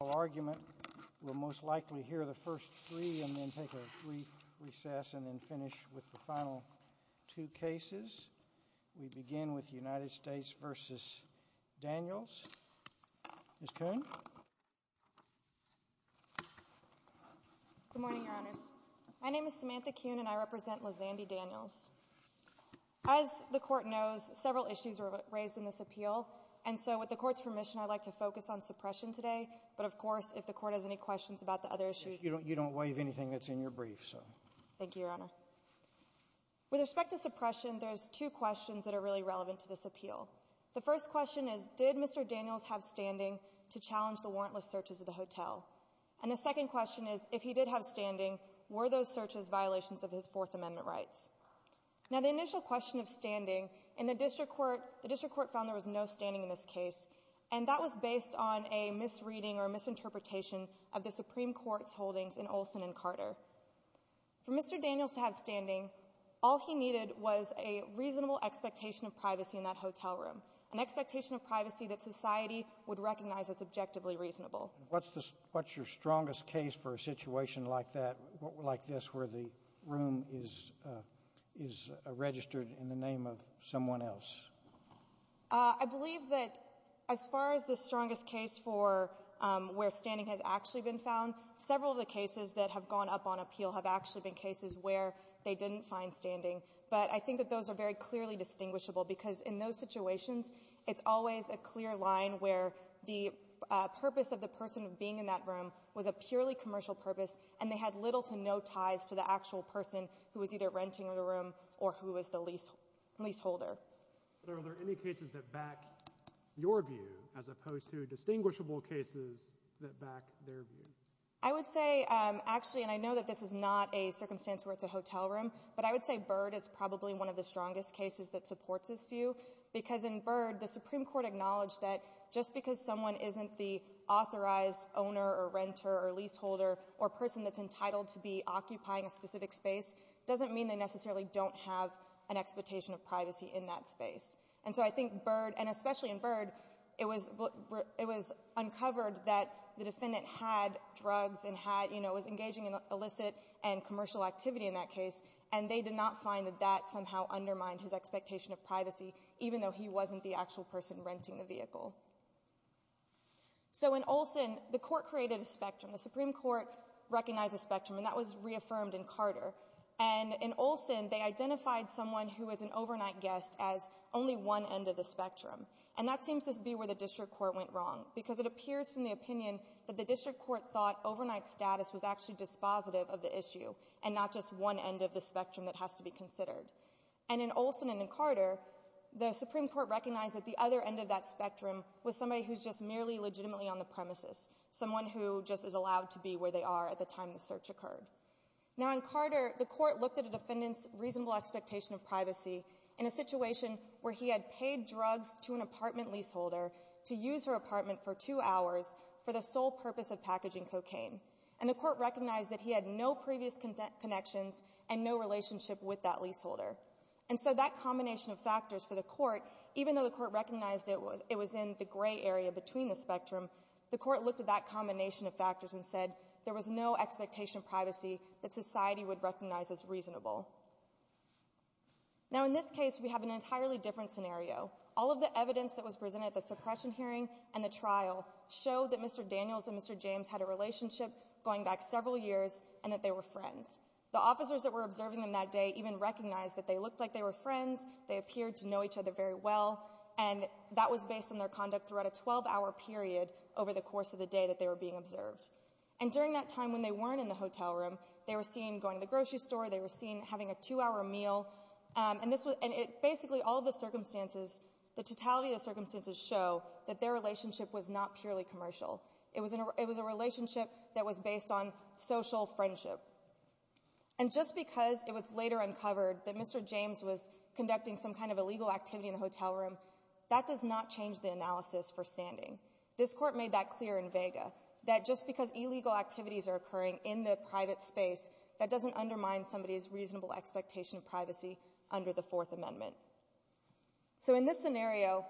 argument. We'll most likely hear the first three and then take a recess and then finish with the final two cases. We begin with United States v. Daniels. Ms. Kuhn? Good morning, Your Honors. My name is Samantha Kuhn, and I represent Lazandy Daniels. As the Court knows, several issues were raised in this appeal, and so with the Court's permission, I'd like to focus on suppression today, but, of course, if the Court has any questions about the other issues... You don't waive anything that's in your brief, so... Thank you, Your Honor. With respect to suppression, there's two questions that are really relevant to this appeal. The first question is, did Mr. Daniels have standing to challenge the warrantless searches of the hotel? And the second question is, if he did have standing, were those searches violations of his Fourth Amendment rights? Now, the initial question of standing, and the District Court found there was no standing in this case, and that was based on a misreading or misinterpretation of the Supreme Court's holdings in Olson and Carter. For Mr. Daniels to have standing, all he needed was a reasonable expectation of privacy in that hotel room, an expectation of privacy that society would recognize as objectively reasonable. What's your strongest case for a situation like that, like this, where the room is registered in the name of someone else? I believe that, as far as the strongest case for where standing has actually been found, several of the cases that have gone up on appeal have actually been cases where they didn't find standing. But I think that those are very clearly distinguishable, because in those situations, it's always a clear line where the purpose of the person being in that room was a purely commercial purpose, and they had little to no ties to the actual person who was either renting the room or who was the leaseholder. Are there any cases that back your view, as opposed to distinguishable cases that back their view? I would say, actually, and I know that this is not a circumstance where it's a hotel room, but I would say Byrd is probably one of the strongest cases that supports this view, because in Byrd, the Supreme Court acknowledged that just because someone isn't the authorized owner or renter or leaseholder or person that's entitled to be occupying a specific space doesn't mean they necessarily don't have an expectation of privacy in that space. And so I think Byrd, and especially in Byrd, it was uncovered that the defendant had drugs and was engaging in illicit and commercial activity in that case, and they did not find that that somehow undermined his expectation of privacy, even though he wasn't the actual person renting the vehicle. So in Olson, the court created a spectrum. The Supreme Court recognized a spectrum, and that was reaffirmed in Carter. And in Olson, they identified someone who was an overnight guest as only one end of the spectrum. And that seems to be where the district court went wrong, because it appears from the opinion that the district court thought overnight status was actually dispositive of the issue, and not just one end of the spectrum that has to be considered. And in Olson and in Carter, the Supreme Court recognized that the other end of that spectrum was somebody who's just merely legitimately on the premises, someone who just is allowed to be where they are at the time the search occurred. Now in Carter, the court looked at a defendant's reasonable expectation of privacy in a situation where he had paid drugs to an apartment leaseholder to use her apartment for two hours for the sole purpose of packaging cocaine. And the court recognized that he had no previous connections and no relationship with that leaseholder. And so that combination of factors for the court, even though the court recognized it was in the gray area between the spectrum, the court looked at that combination of factors and said there was no expectation of privacy that society would recognize as reasonable. Now in this case, we have an entirely different scenario. All of the evidence that was presented at the suppression hearing and the trial showed that Mr. Daniels and Mr. James had a relationship going back several years, and that they were friends. The officers that were observing them that day even recognized that they looked like they were friends, they appeared to know each other very well, and that was based on their And during that time when they weren't in the hotel room, they were seen going to the grocery store, they were seen having a two-hour meal, and basically all of the circumstances, the totality of the circumstances show that their relationship was not purely commercial. It was a relationship that was based on social friendship. And just because it was later uncovered that Mr. James was conducting some kind of illegal activity in the hotel room, that does not change the analysis for standing. This court made that clear in vega, that just because illegal activities are occurring in the private space, that doesn't undermine somebody's reasonable expectation of privacy under the Fourth Amendment. So in this scenario,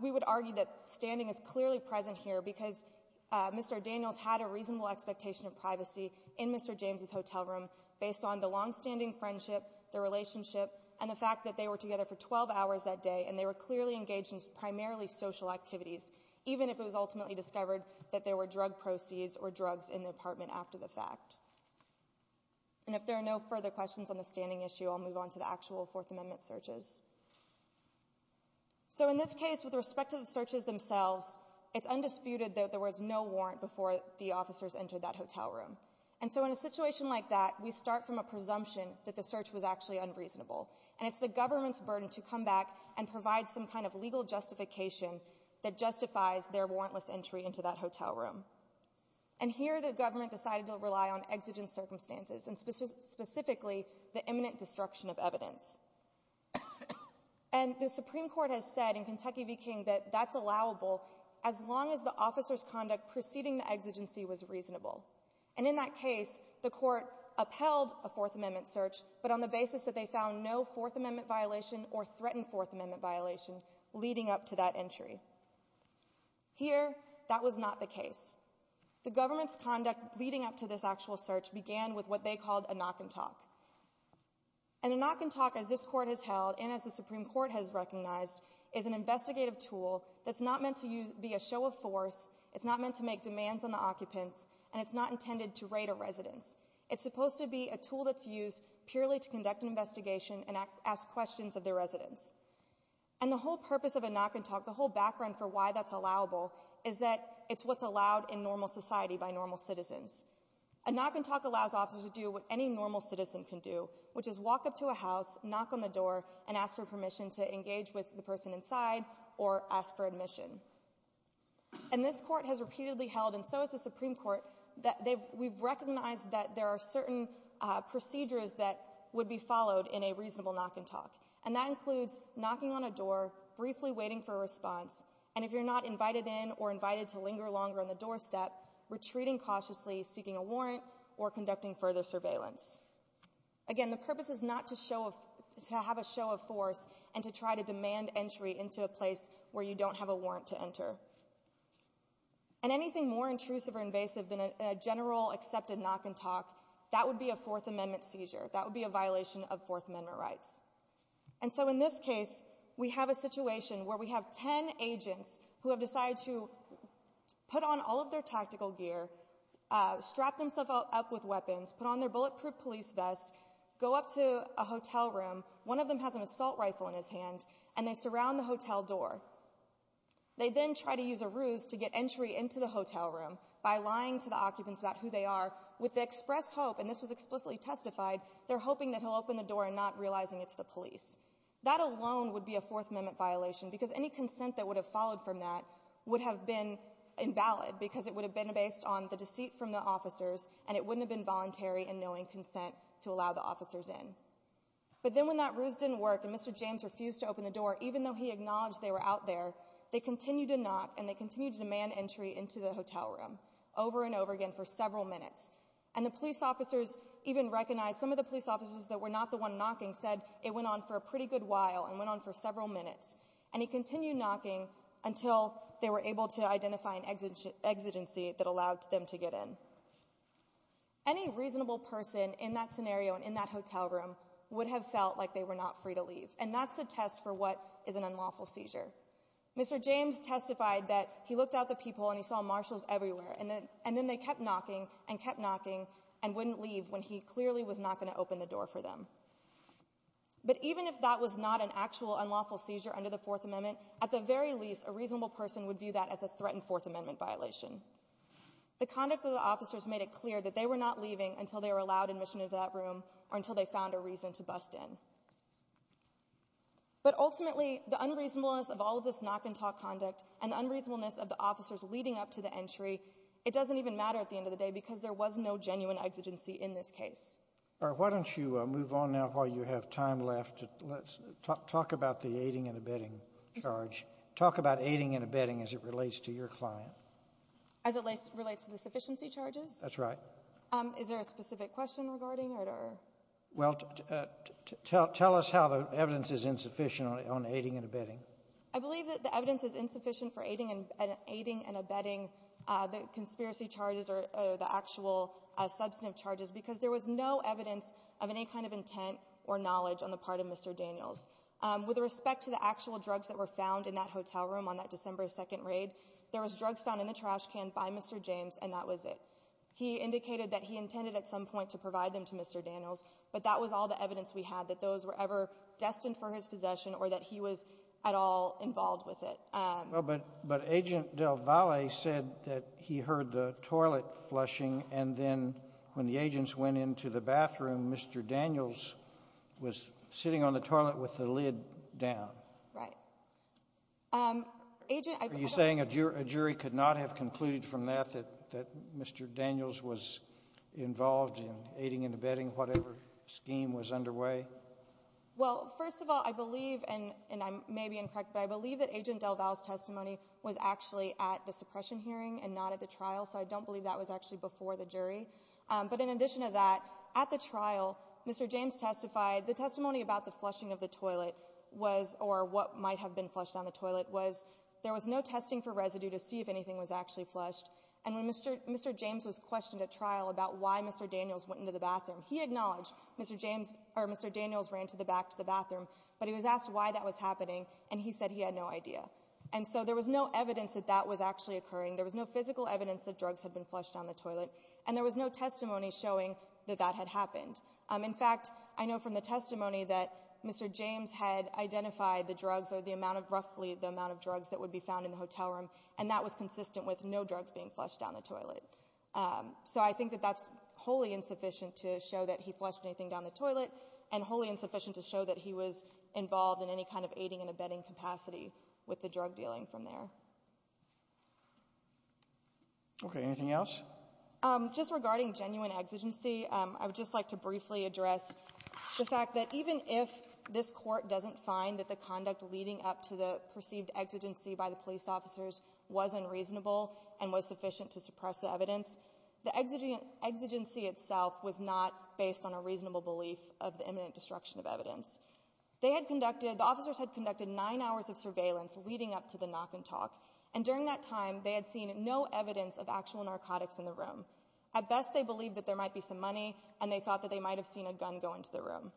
we would argue that standing is clearly present here because Mr. Daniels had a reasonable expectation of privacy in Mr. James' hotel room based on the long-standing friendship, the relationship, and the fact that they were together for 12 hours that even if it was ultimately discovered that there were drug proceeds or drugs in the apartment after the fact. And if there are no further questions on the standing issue, I'll move on to the actual Fourth Amendment searches. So in this case, with respect to the searches themselves, it's undisputed that there was no warrant before the officers entered that hotel room. And so in a situation like that, we start from a presumption that the search was actually unreasonable. And it's the government's burden to come back and provide some kind of legal justification that justifies their warrantless entry into that hotel room. And here, the government decided to rely on exigent circumstances, and specifically the imminent destruction of evidence. And the Supreme Court has said in Kentucky v. King that that's allowable as long as the officer's conduct preceding the exigency was reasonable. And in that case, the court upheld a Fourth Amendment search, but on the basis that they found no Fourth Amendment violation or threatened Fourth Amendment violation leading up to that entry. Here, that was not the case. The government's conduct leading up to this actual search began with what they called a knock-and-talk. And a knock-and-talk, as this Court has held and as the Supreme Court has recognized, is an investigative tool that's not meant to be a show of force, it's not meant to make demands on the occupants, and it's not intended to raid a residence. It's supposed to be a tool that's used purely to conduct an investigation and ask questions of the residents. And the whole purpose of a knock-and-talk, the whole background for why that's allowable, is that it's what's allowed in normal society by normal citizens. A knock-and-talk allows officers to do what any normal citizen can do, which is walk up to a house, knock on the door, and ask for permission to engage with the person inside or ask for admission. And this Court has repeatedly held, and so has the Supreme Court, that we've recognized that there are certain procedures that would be followed in a reasonable knock-and-talk. And that includes knocking on a door, briefly waiting for a response, and if you're not invited in or invited to linger longer on the doorstep, retreating cautiously, seeking a warrant, or conducting further surveillance. Again, the purpose is not to have a show of force and to try to demand entry into a place where you don't have a warrant to enter. And anything more intrusive or invasive than a general accepted knock-and-talk, that would be a Fourth Amendment seizure. That would be a violation of Fourth Amendment rights. And so in this case, we have a situation where we have ten agents who have decided to put on all of their tactical gear, strap themselves up with weapons, put on their bulletproof police vests, go up to a hotel room. One of them has an assault rifle in his hand, and they surround the hotel door. They then try to use a ruse to get entry into the hotel room by lying to the occupants about who they are, with the express hope, and this was explicitly testified, they're hoping that he'll open the door and not realizing it's the police. That alone would be a Fourth Amendment violation, because any consent that would have followed from that would have been invalid, because it would have been based on the deceit from the officers, and it wouldn't have been voluntary in knowing consent to allow the officers in. But then when that ruse didn't work and Mr. James refused to open the door, even though he acknowledged they were out there, they continued to knock and they continued to demand entry into the hotel room over and over again for several minutes, and the police officers even recognized some of the police officers that were not the one knocking said it went on for a pretty good while and went on for several minutes, and he continued knocking until they were able to identify an exigency that allowed them to get in. Any reasonable person in that scenario and in that hotel room would have felt like they were not free to leave, and that's a test for what is an unlawful seizure. Mr. James testified that he looked at the people and he saw marshals everywhere, and then they kept knocking and kept knocking and wouldn't leave when he clearly was not going to open the door for them. But even if that was not an actual unlawful seizure under the Fourth Amendment, at the very least, a reasonable person would view that as a threatened Fourth Amendment violation. The conduct of the officers made it clear that they were not leaving until they were allowed admission into that room or until they found a reason to bust in. But ultimately, the unreasonableness of all of this knock-and-talk conduct and the unreasonableness of the officers leading up to the entry, it doesn't even matter at the end of the day because there was no genuine exigency in this case. All right. Why don't you move on now while you have time left? Let's talk about the aiding and abetting charge. Talk about aiding and abetting as it relates to your client. As it relates to the sufficiency charges? That's right. Is there a specific question regarding it or? Well, tell us how the evidence is insufficient on aiding and abetting. I believe that the evidence is insufficient for aiding and abetting the conspiracy charges or the actual substantive charges because there was no evidence of any kind of intent or knowledge on the part of Mr. Daniels. With respect to the actual drugs that were found in that hotel room on that December 2nd raid, there was drugs found in the trash can by Mr. James, and that was it. He indicated that he intended at some point to provide them to Mr. Daniels, but that was all the evidence we had, that those were ever destined for his possession or that he was at all involved with it. Well, but Agent Del Valle said that he heard the toilet flushing, and then when the agents went into the bathroom, Mr. Daniels was sitting on the toilet with the lid down. Right. Are you saying a jury could not have concluded from that that Mr. Daniels was involved in aiding and abetting whatever scheme was underway? Well, first of all, I believe, and I may be incorrect, but I believe that Agent Del Valle's testimony was actually at the suppression hearing and not at the trial, so I don't believe that was actually before the jury. But in addition to that, at the trial, Mr. James testified, the testimony about the flushing of the toilet was, or what might have been flushed on the toilet was, there was no testing for residue to see if anything was actually flushed, and when Mr. James was questioned at trial about why Mr. Daniels went into the bathroom, he acknowledged Mr. Daniels ran to the back to the bathroom, but he was asked why that was happening, and he said he had no idea. And so there was no evidence that that was actually occurring, there was no physical evidence that drugs had been flushed on the toilet, and there was no testimony showing that that had happened. In fact, I know from the testimony that Mr. James had identified the drugs or the amount of roughly the amount of drugs that would be found in the hotel room, and that was consistent with no drugs being flushed down the toilet. So I think that that's wholly insufficient to show that he flushed anything down the toilet, and wholly insufficient to show that he was involved in any kind of aiding and abetting capacity with the drug dealing from there. Okay, anything else? Just regarding genuine exigency, I would just like to briefly address the fact that even if this Court doesn't find that the conduct leading up to the perceived exigency by the police officers was unreasonable and was sufficient to suppress the evidence, the exigency itself was not based on a reasonable belief of the imminent destruction of evidence. They had conducted, the officers had conducted nine hours of surveillance leading up to the knock and talk, and during that time, they had seen no evidence of actual narcotics in the room. At best, they believed that there might be some money, and they thought that they might have seen a gun go into the room.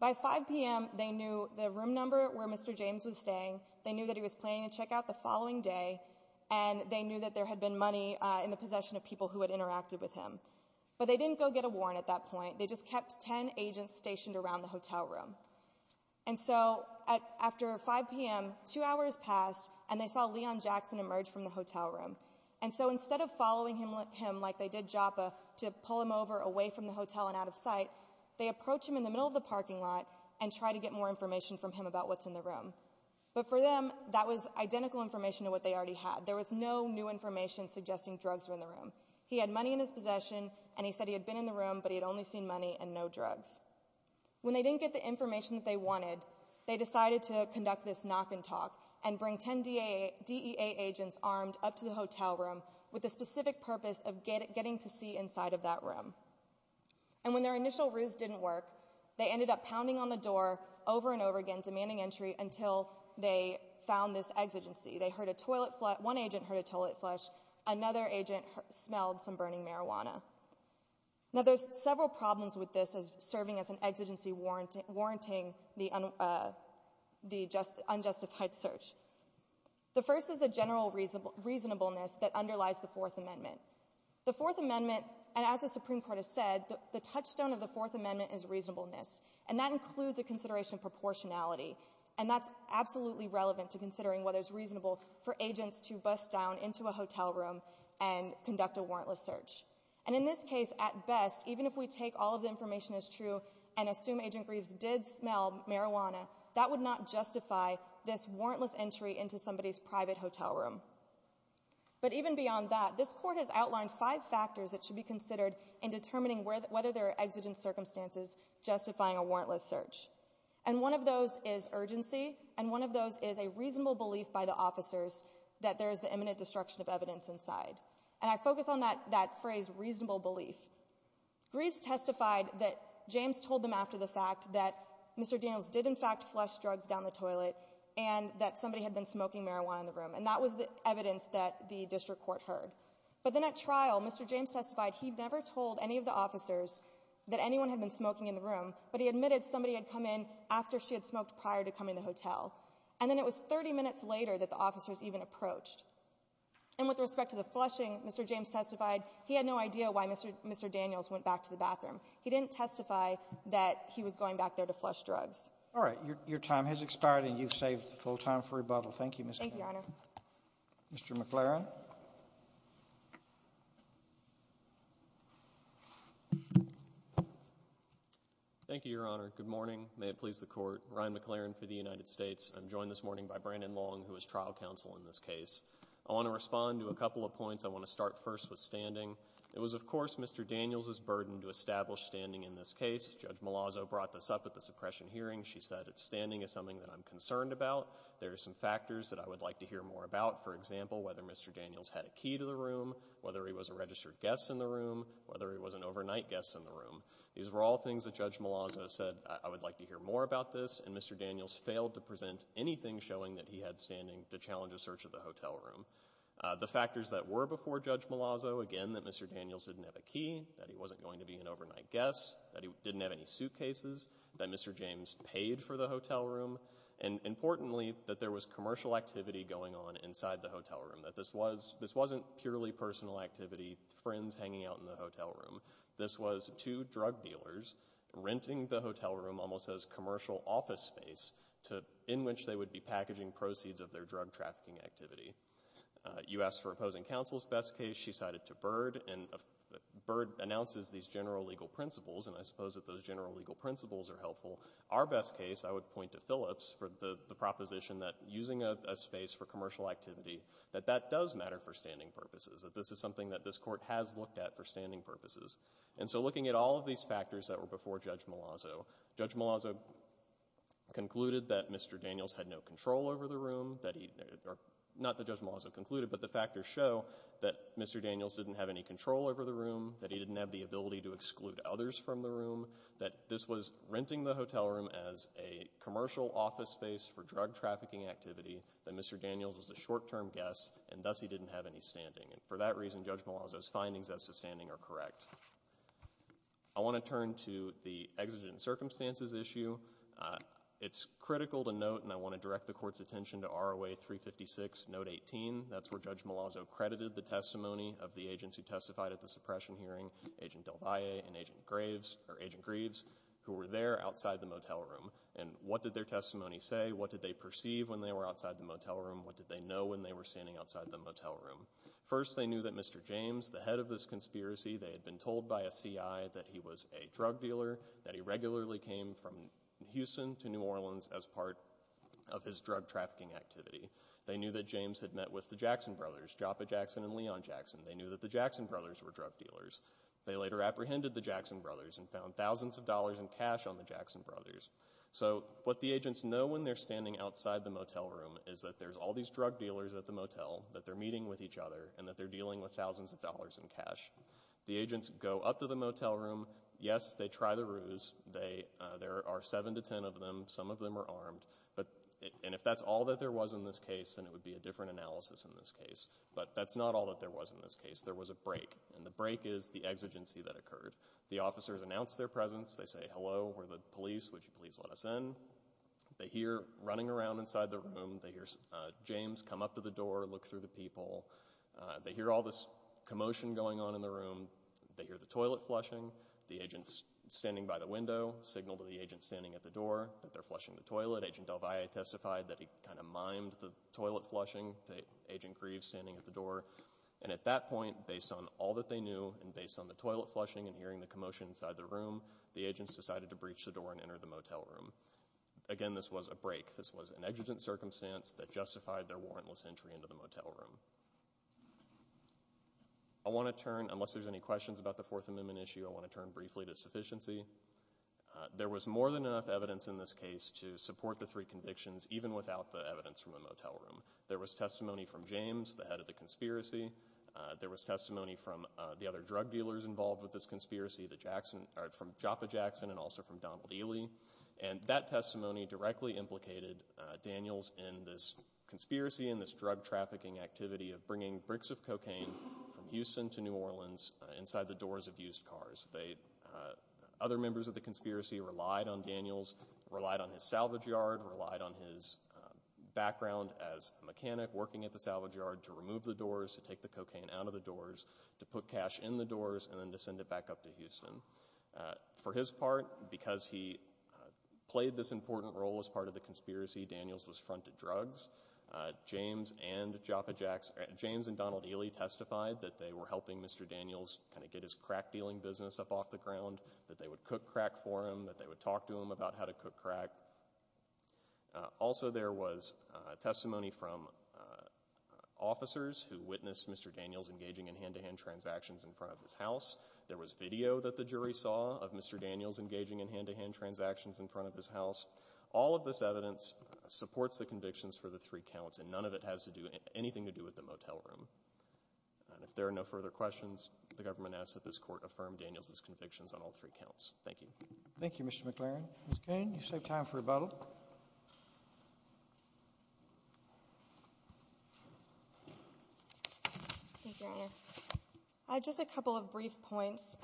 By 5 p.m., they knew the room number where Mr. James was staying, they knew that he was planning to check out the following day, and they knew that there had been money in the possession of people who had interacted with him. But they didn't go get a warrant at that point, they just kept ten agents stationed around the hotel room. And so, after 5 p.m., two hours passed, and they saw Leon Jackson emerge from the hotel room. And so, instead of following him like they did Joppa, to pull him over away from the hotel and out of sight, they approached him in the middle of the parking lot and tried to get more information from him about what's in the room. But for them, that was identical information to what they already had. There was no new information suggesting drugs were in the room. He had money in his possession, and he said he had been in the room, but he had only seen money and no drugs. When they didn't get the information that they wanted, they decided to conduct this knock and talk, and bring ten DEA agents armed up to the hotel room with the specific purpose of getting to see inside of that room. And when their initial ruse didn't work, they ended up pounding on the door over and over again, demanding entry, until they found this exigency. They heard a toilet flush, one agent heard a toilet flush, another agent smelled some burning marijuana. Now, there's several problems with this as serving as an exigency warranting the unjustified search. The first is the general reasonableness that underlies the Fourth Amendment. The Fourth Amendment, and as the Supreme Court has said, the touchstone of the Fourth Amendment is reasonableness, and that includes a consideration of proportionality. And that's absolutely relevant to considering whether it's reasonable for agents to bust down into a hotel room and conduct a warrantless search. And in this case, at best, even if we take all of the information as true, and assume Agent Greaves did smell marijuana, that would not justify this warrantless entry into somebody's private hotel room. But even beyond that, this Court has outlined five factors that should be considered in determining whether there are exigent circumstances justifying a warrantless search. And one of those is urgency, and one of those is a reasonable belief by the officers that there is the imminent destruction of evidence inside. And I focus on that phrase, reasonable belief. Greaves testified that James told them after the fact that Mr. Daniels did in fact flush drugs down the toilet, and that somebody had been smoking marijuana in the room. And that was the evidence that the District Court heard. But then at trial, Mr. James testified he never told any of the officers that anyone had been smoking in the room, but he admitted somebody had come in after she had smoked prior to coming to the hotel. And then it was 30 minutes later that the officers even approached. And with respect to the flushing, Mr. James testified he had no idea why Mr. Daniels went back to the bathroom. He didn't testify that he was going back there to flush drugs. All right. Your time has expired, and you've saved full time for rebuttal. Thank you, Mr. McClaren. Thank you, Your Honor. Mr. McClaren. Thank you, Your Honor. Good morning. May it please the Court. Ryan McClaren for the United States. I'm joined this morning by Brandon Long, who is trial counsel in this case. I want to respond to a couple of points. I want to start first with standing. It was, of course, Mr. Daniels' burden to establish standing in this case. Judge Malazzo brought this up at the suppression hearing. She said that standing is something that I'm concerned about. There are some factors that I would like to hear more about. For example, whether Mr. Daniels had a key to the room, whether he was a registered guest in the room, whether he was an overnight guest in the room. These were all things that Judge Malazzo said, I would like to hear more about this. And Mr. Daniels failed to present anything showing that he had standing to challenge a search of the hotel room. The factors that were before Judge Malazzo, again, that Mr. Daniels didn't have a key, that he wasn't going to be an overnight guest, that he didn't have any suitcases, that Mr. James paid for the hotel room, and importantly, that there was commercial activity going on inside the hotel room, that this wasn't purely personal activity, friends hanging out in the hotel room. This was two drug dealers renting the hotel room almost as commercial office space in which they would be packaging proceeds of their drug trafficking activity. You asked for opposing counsel's best case. She cited to Byrd, and Byrd announces these general legal principles, and I suppose that those general legal principles are helpful. Our best case, I would point to Phillips for the proposition that using a space for commercial activity, that that does matter for standing purposes, that this is something that this is. And so looking at all of these factors that were before Judge Malazzo, Judge Malazzo concluded that Mr. Daniels had no control over the room, that he, not that Judge Malazzo concluded, but the factors show that Mr. Daniels didn't have any control over the room, that he didn't have the ability to exclude others from the room, that this was renting the hotel room as a commercial office space for drug trafficking activity, that Mr. Daniels was a short-term guest, and thus he didn't have any standing, and for that reason, Judge Malazzo's findings as to standing are correct. I want to turn to the exigent circumstances issue. It's critical to note, and I want to direct the Court's attention to ROA 356, Note 18. That's where Judge Malazzo credited the testimony of the agents who testified at the suppression hearing, Agent DelValle and Agent Graves, who were there outside the motel room. And what did their testimony say? What did they perceive when they were outside the motel room? What did they know when they were standing outside the motel room? First, they knew that Mr. James, the head of this conspiracy, they had been told by a CI that he was a drug dealer, that he regularly came from Houston to New Orleans as part of his drug trafficking activity. They knew that James had met with the Jackson brothers, Joppa Jackson and Leon Jackson. They knew that the Jackson brothers were drug dealers. They later apprehended the Jackson brothers and found thousands of dollars in cash on the Jackson brothers. So what the agents know when they're standing outside the motel room is that there's all drug dealers at the motel, that they're meeting with each other, and that they're dealing with thousands of dollars in cash. The agents go up to the motel room. Yes, they try the ruse. There are seven to ten of them. Some of them are armed. And if that's all that there was in this case, then it would be a different analysis in this case. But that's not all that there was in this case. There was a break. And the break is the exigency that occurred. The officers announced their presence. They say, hello, we're the police, would you please let us in? They hear running around inside the room, they hear James come up to the door, look through the peephole. They hear all this commotion going on in the room. They hear the toilet flushing. The agents standing by the window signal to the agents standing at the door that they're flushing the toilet. Agent Del Valle testified that he kind of mimed the toilet flushing to Agent Greaves standing at the door. And at that point, based on all that they knew and based on the toilet flushing and hearing the commotion inside the room, the agents decided to breach the door and enter the motel room. Again, this was a break. This was an exigent circumstance that justified their warrantless entry into the motel room. I want to turn, unless there's any questions about the Fourth Amendment issue, I want to turn briefly to sufficiency. There was more than enough evidence in this case to support the three convictions even without the evidence from the motel room. There was testimony from James, the head of the conspiracy. There was testimony from the other drug dealers involved with this conspiracy, from Joppa Jackson and also from Donald Ely. And that testimony directly implicated Daniels in this conspiracy and this drug trafficking activity of bringing bricks of cocaine from Houston to New Orleans inside the doors of used cars. Other members of the conspiracy relied on Daniels, relied on his salvage yard, relied on his background as a mechanic working at the salvage yard to remove the doors, to take the cocaine out of the doors, to put cash in the doors, and then to send it back up to Houston. For his part, because he played this important role as part of the conspiracy, Daniels was fronted drugs. James and Joppa Jackson, James and Donald Ely testified that they were helping Mr. Daniels kind of get his crack dealing business up off the ground, that they would cook crack for him, that they would talk to him about how to cook crack. Also there was testimony from officers who witnessed Mr. Daniels engaging in hand-to-hand transactions in front of his house. There was video that the jury saw of Mr. Daniels engaging in hand-to-hand transactions in front of his house. All of this evidence supports the convictions for the three counts, and none of it has anything to do with the motel room. If there are no further questions, the government asks that this Court affirm Daniels' convictions on all three counts. Thank you. Thank you, Mr. McLaren. Thank you, Your Honor. I have just a couple of brief points.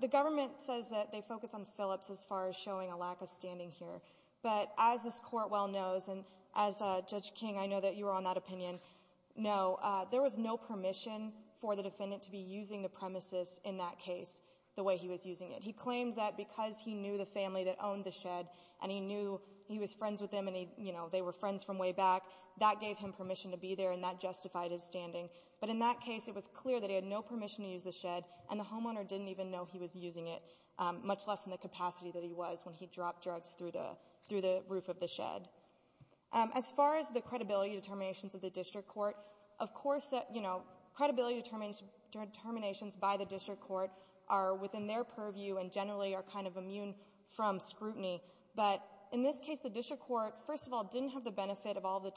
The government says that they focus on Phillips as far as showing a lack of standing here. But as this Court well knows, and as Judge King, I know that you were on that opinion, know there was no permission for the defendant to be using the premises in that case the way he was using it. He claimed that because he knew the family that owned the shed, and he knew he was friends with them, and they were friends from way back, that gave him permission to be there and that justified his standing. But in that case, it was clear that he had no permission to use the shed, and the homeowner didn't even know he was using it, much less in the capacity that he was when he dropped drugs through the roof of the shed. As far as the credibility determinations of the District Court, of course, you know, credibility determinations by the District Court are within their purview and generally are kind of immune from scrutiny. But in this case, the District Court, first of all, didn't have the benefit of all the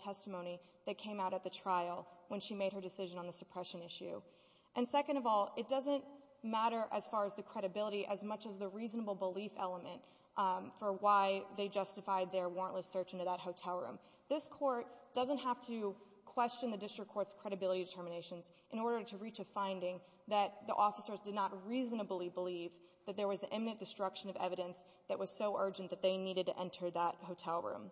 on the suppression issue. And second of all, it doesn't matter as far as the credibility as much as the reasonable belief element for why they justified their warrantless search into that hotel room. This Court doesn't have to question the District Court's credibility determinations in order to reach a finding that the officers did not reasonably believe that there was imminent destruction of evidence that was so urgent that they needed to enter that hotel room.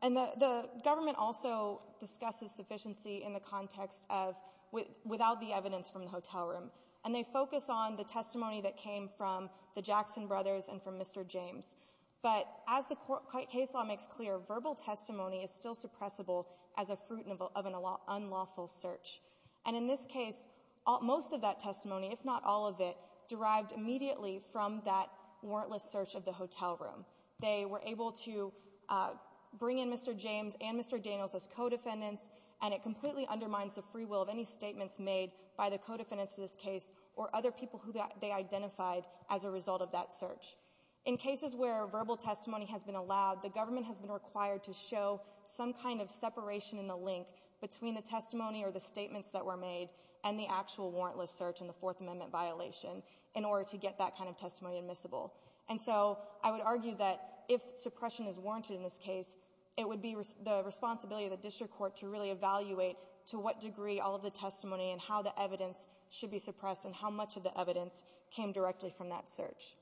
And the government also discusses sufficiency in the context of without the evidence from the hotel room. And they focus on the testimony that came from the Jackson brothers and from Mr. James. But as the case law makes clear, verbal testimony is still suppressible as a fruit of an unlawful search. And in this case, most of that testimony, if not all of it, derived immediately from that warrantless search of the hotel room. They were able to bring in Mr. James and Mr. Daniels as co-defendants and it completely undermines the free will of any statements made by the co-defendants of this case or other people who they identified as a result of that search. In cases where verbal testimony has been allowed, the government has been required to show some kind of separation in the link between the testimony or the statements that were made and the actual warrantless search in the Fourth Amendment violation in order to get that kind of testimony admissible. And so, I would argue that if suppression is warranted in this case, it would be the responsibility of the district court to really evaluate to what degree all of the testimony and how the evidence should be suppressed and how much of the evidence came directly from that search.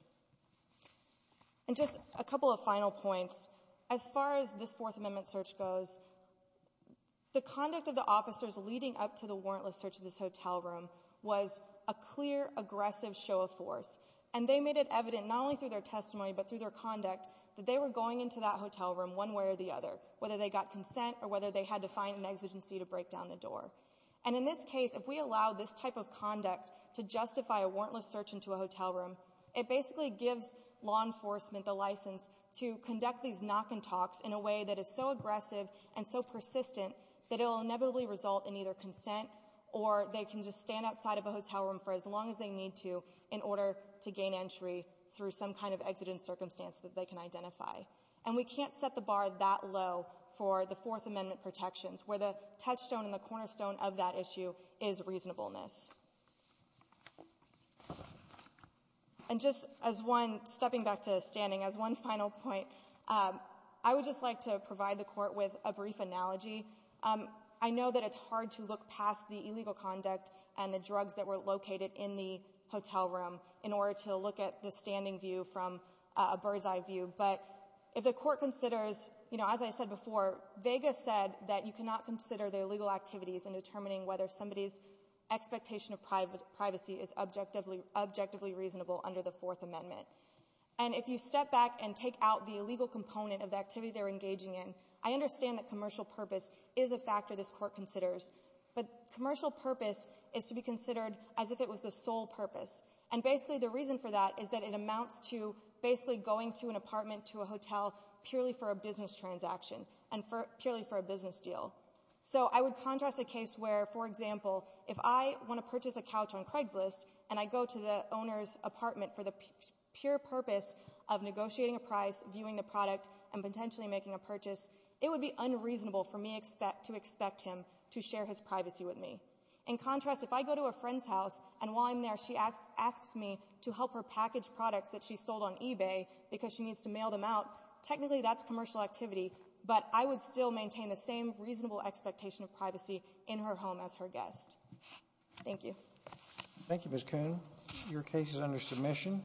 And just a couple of final points. As far as this Fourth Amendment search goes, the conduct of the officers leading up to the warrantless search of this hotel room was a clear, aggressive show of force. And they made it evident not only through their testimony but through their conduct that they were going into that hotel room one way or the other, whether they got consent or whether they had to find an exigency to break down the door. And in this case, if we allow this type of conduct to justify a warrantless search into a hotel room, it basically gives law enforcement the license to conduct these knock and talks in a way that is so aggressive and so persistent that it will inevitably result in either consent or they can just stand outside of a hotel room for as long as they need to in order to gain entry through some kind of exigent circumstance that they can identify. And we can't set the bar that low for the Fourth Amendment protections, where the touchstone and the cornerstone of that issue is reasonableness. And just as one, stepping back to standing, as one final point, I would just like to provide the court with a brief analogy. I know that it's hard to look past the illegal conduct and the drugs that were located in the hotel room in order to look at the standing view from a bird's eye view. But if the court considers, as I said before, Vega said that you cannot consider the illegal activities in determining whether somebody's expectation of privacy is objectively reasonable under the Fourth Amendment. And if you step back and take out the illegal component of the activity they're engaging in, I understand that commercial purpose is a factor this court considers. But commercial purpose is to be considered as if it was the sole purpose. And basically the reason for that is that it amounts to basically going to an apartment, to a hotel, purely for a business transaction and purely for a business deal. So I would contrast a case where, for example, if I want to purchase a couch on Craigslist and I go to the owner's apartment for the pure purpose of negotiating a price, viewing the product and potentially making a purchase, it would be unreasonable for me to expect him to share his privacy with me. In contrast, if I go to a friend's house and while I'm there she asks me to help her package products that she sold on eBay because she needs to mail them out, technically that's commercial activity, but I would still maintain the same reasonable expectation of privacy in her home as her guest. Thank you.